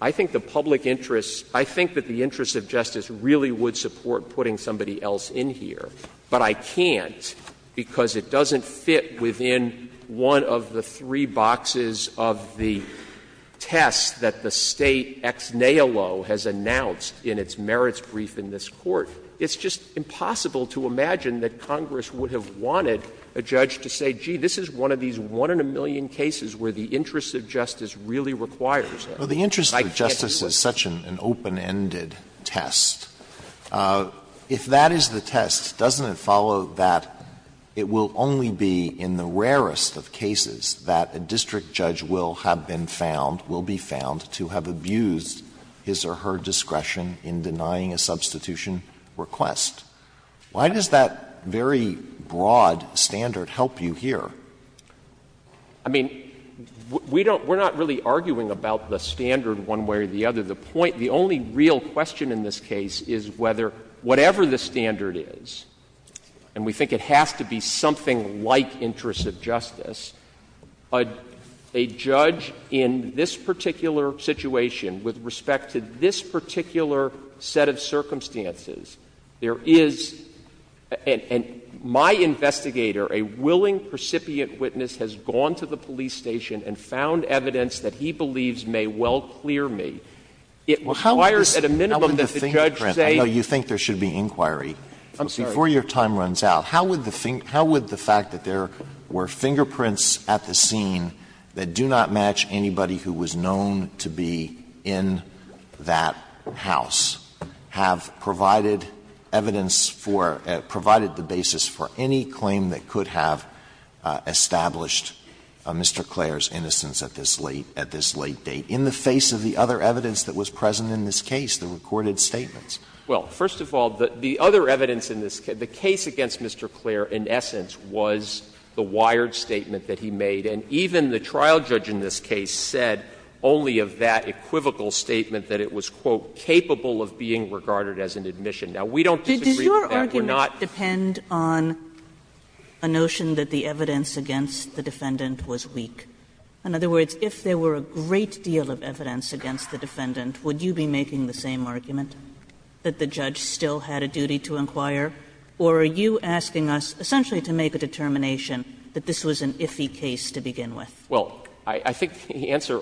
I think the public interest of justice really would support putting somebody else in here, but I can't because it doesn't fit within one of the three boxes of the test that the State ex nailo has announced in its merits brief in this Court, it's just impossible to imagine that Congress would have wanted a judge to say, gee, this is one of these one-in-a-million cases where the interest of justice really requires it. Alito, the interest of justice is such an open-ended test. If that is the test, doesn't it follow that it will only be in the rarest of cases that a district judge will have been found, will be found, to have abused his or her discretion in denying a substitution request? Why does that very broad standard help you here? I mean, we don't — we're not really arguing about the standard one way or the other. The point — the only real question in this case is whether, whatever the standard is, and we think it has to be something like interest of justice, a judge in this particular situation, with respect to this particular set of circumstances, there is — and my investigator, a willing precipient witness, has gone to the police station and found evidence that he believes may well clear me. It requires at a minimum that the judge say — Alito, you think there should be inquiry. Before your time runs out, how would the — how would the fact that there were fingerprints at the scene that do not match anybody who was known to be in that house have provided evidence for — provided the basis for any claim that could have established Mr. Clair's innocence at this late — at this late date, in the face of the other evidence that was present in this case, the recorded statements? Well, first of all, the other evidence in this — the case against Mr. Clair, in essence, was the wired statement that he made, and even the trial judge in this case said only of that equivocal statement, that it was, quote, capable of being regarded as an admission. Now, we don't disagree with that. We're not — Does your argument depend on a notion that the evidence against the defendant was weak? In other words, if there were a great deal of evidence against the defendant, would you be making the same argument, that the judge still had a duty to inquire, or are you asking us essentially to make a determination that this was an iffy case to begin with? Well, I think the answer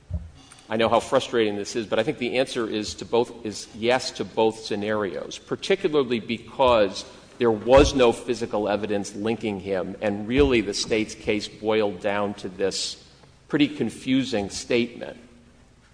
— I know how frustrating this is, but I think the answer is to both — is yes to both scenarios, particularly because there was no physical evidence linking him, and really the State's case boiled down to this pretty confusing statement.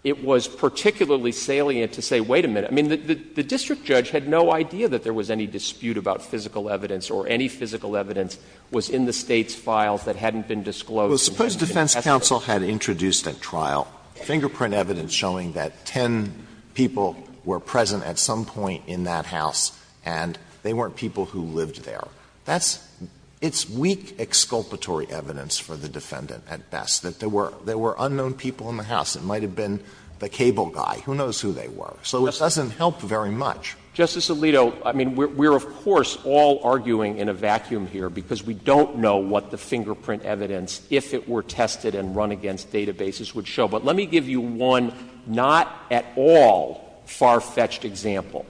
It was particularly salient to say, wait a minute, I mean, the district judge had no idea that there was any dispute about physical evidence or any physical evidence was in the State's files that hadn't been disclosed. Well, suppose defense counsel had introduced a trial, fingerprint evidence showing that 10 people were present at some point in that house, and they weren't people who lived there. That's — it's weak exculpatory evidence for the defendant at best, that there were unknown people in the house. It might have been the cable guy. Who knows who they were. So it doesn't help very much. Justice Alito, I mean, we're of course all arguing in a vacuum here because we don't know what the fingerprint evidence, if it were tested and run against databases, would show. But let me give you one not at all far-fetched example.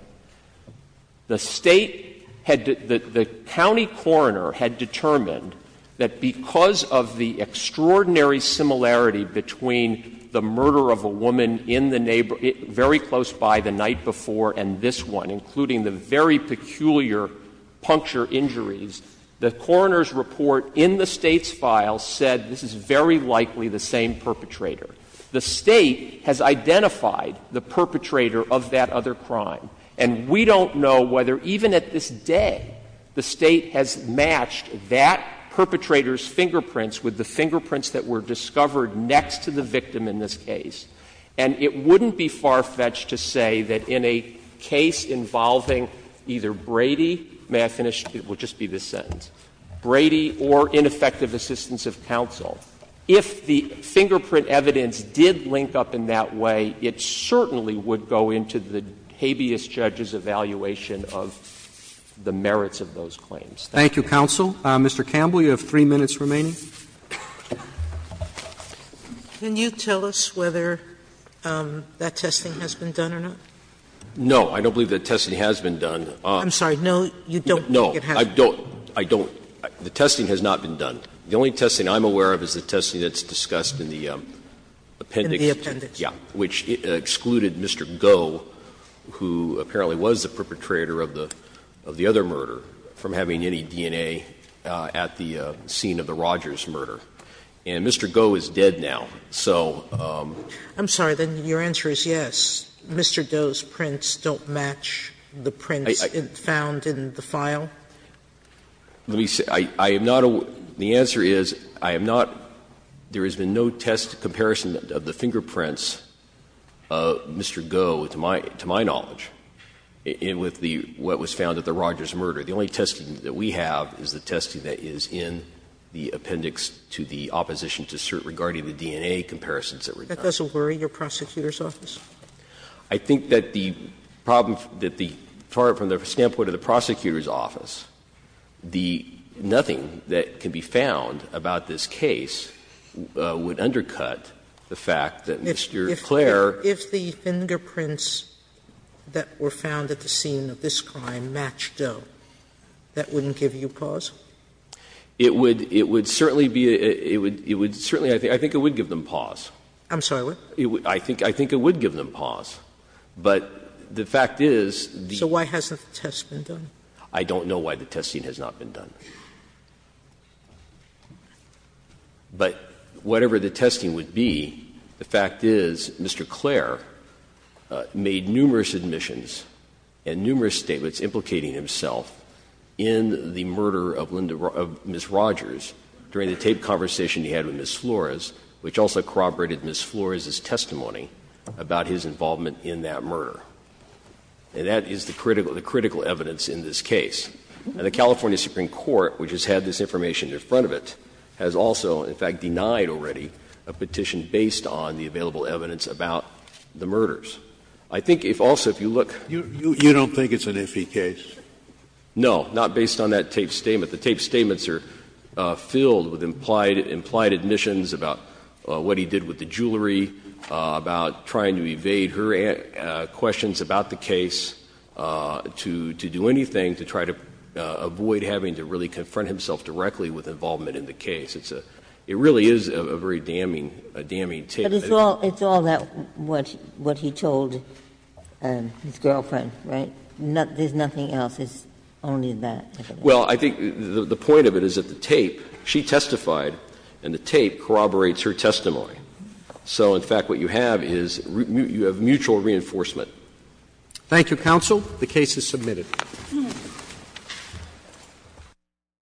The State had — the county coroner had determined that because of the extraordinary similarity between the murder of a woman in the — very close by the night before and this one, including the very peculiar puncture injuries, the coroner's report in the State's file said this is very likely the same perpetrator. The State has identified the perpetrator of that other crime. And we don't know whether even at this day the State has matched that perpetrator's fingerprints with the fingerprints that were discovered next to the victim in this case. And it wouldn't be far-fetched to say that in a case involving either Brady — may I finish? It will just be this sentence. Brady or ineffective assistance of counsel, if the fingerprint evidence did link up in that way, it certainly would go into the habeas judge's evaluation of the merits of those claims. Thank you. Roberts. Roberts. Mr. Campbell, you have 3 minutes remaining. Sotomayor. Can you tell us whether that testing has been done or not? No. I don't believe that testing has been done. I'm sorry. No, you don't think it has? No. I don't. I don't. The testing has not been done. The only testing I'm aware of is the testing that's discussed in the appendix. In the appendix. Yes. Which excluded Mr. Goh, who apparently was the perpetrator of the other murder, from having any DNA at the scene of the Rogers murder. And Mr. Goh is dead now. So Mr. Goh's prints don't match the prints found in the file? Let me say, I am not aware of the answer is, I am not, there has been no test comparison of the fingerprints of Mr. Goh to my knowledge, and with what was found at the Rogers murder. The only testing that we have is the testing that is in the appendix to the opposition to cert regarding the DNA comparisons that were done. That doesn't worry your prosecutor's office? I think that the problem that the, from the standpoint of the prosecutor's office, the nothing that can be found about this case would undercut the fact that Mr. Clare. If the fingerprints that were found at the scene of this crime matched up, that wouldn't give you pause? It would certainly be, it would certainly, I think it would give them pause. I'm sorry, what? I think it would give them pause. But the fact is the. So why hasn't the test been done? I don't know why the testing has not been done. But whatever the testing would be, the fact is Mr. Clare made numerous admissions and numerous statements implicating himself in the murder of Linda, of Ms. Rogers during the tape conversation he had with Ms. Flores, which also corroborated Ms. Flores' testimony about his involvement in that murder. And that is the critical evidence in this case. And the California Supreme Court, which has had this information in front of it, has also, in fact, denied already a petition based on the available evidence about the murders. I think if also, if you look. You don't think it's an iffy case? No, not based on that tape statement. But the tape statements are filled with implied admissions about what he did with the jewelry, about trying to evade her questions about the case, to do anything to try to avoid having to really confront himself directly with involvement in the case. It really is a very damning, damning tape. But it's all that what he told his girlfriend, right? There's nothing else. It's only that. Well, I think the point of it is that the tape, she testified, and the tape corroborates her testimony. So, in fact, what you have is you have mutual reinforcement. Thank you, counsel. The case is submitted.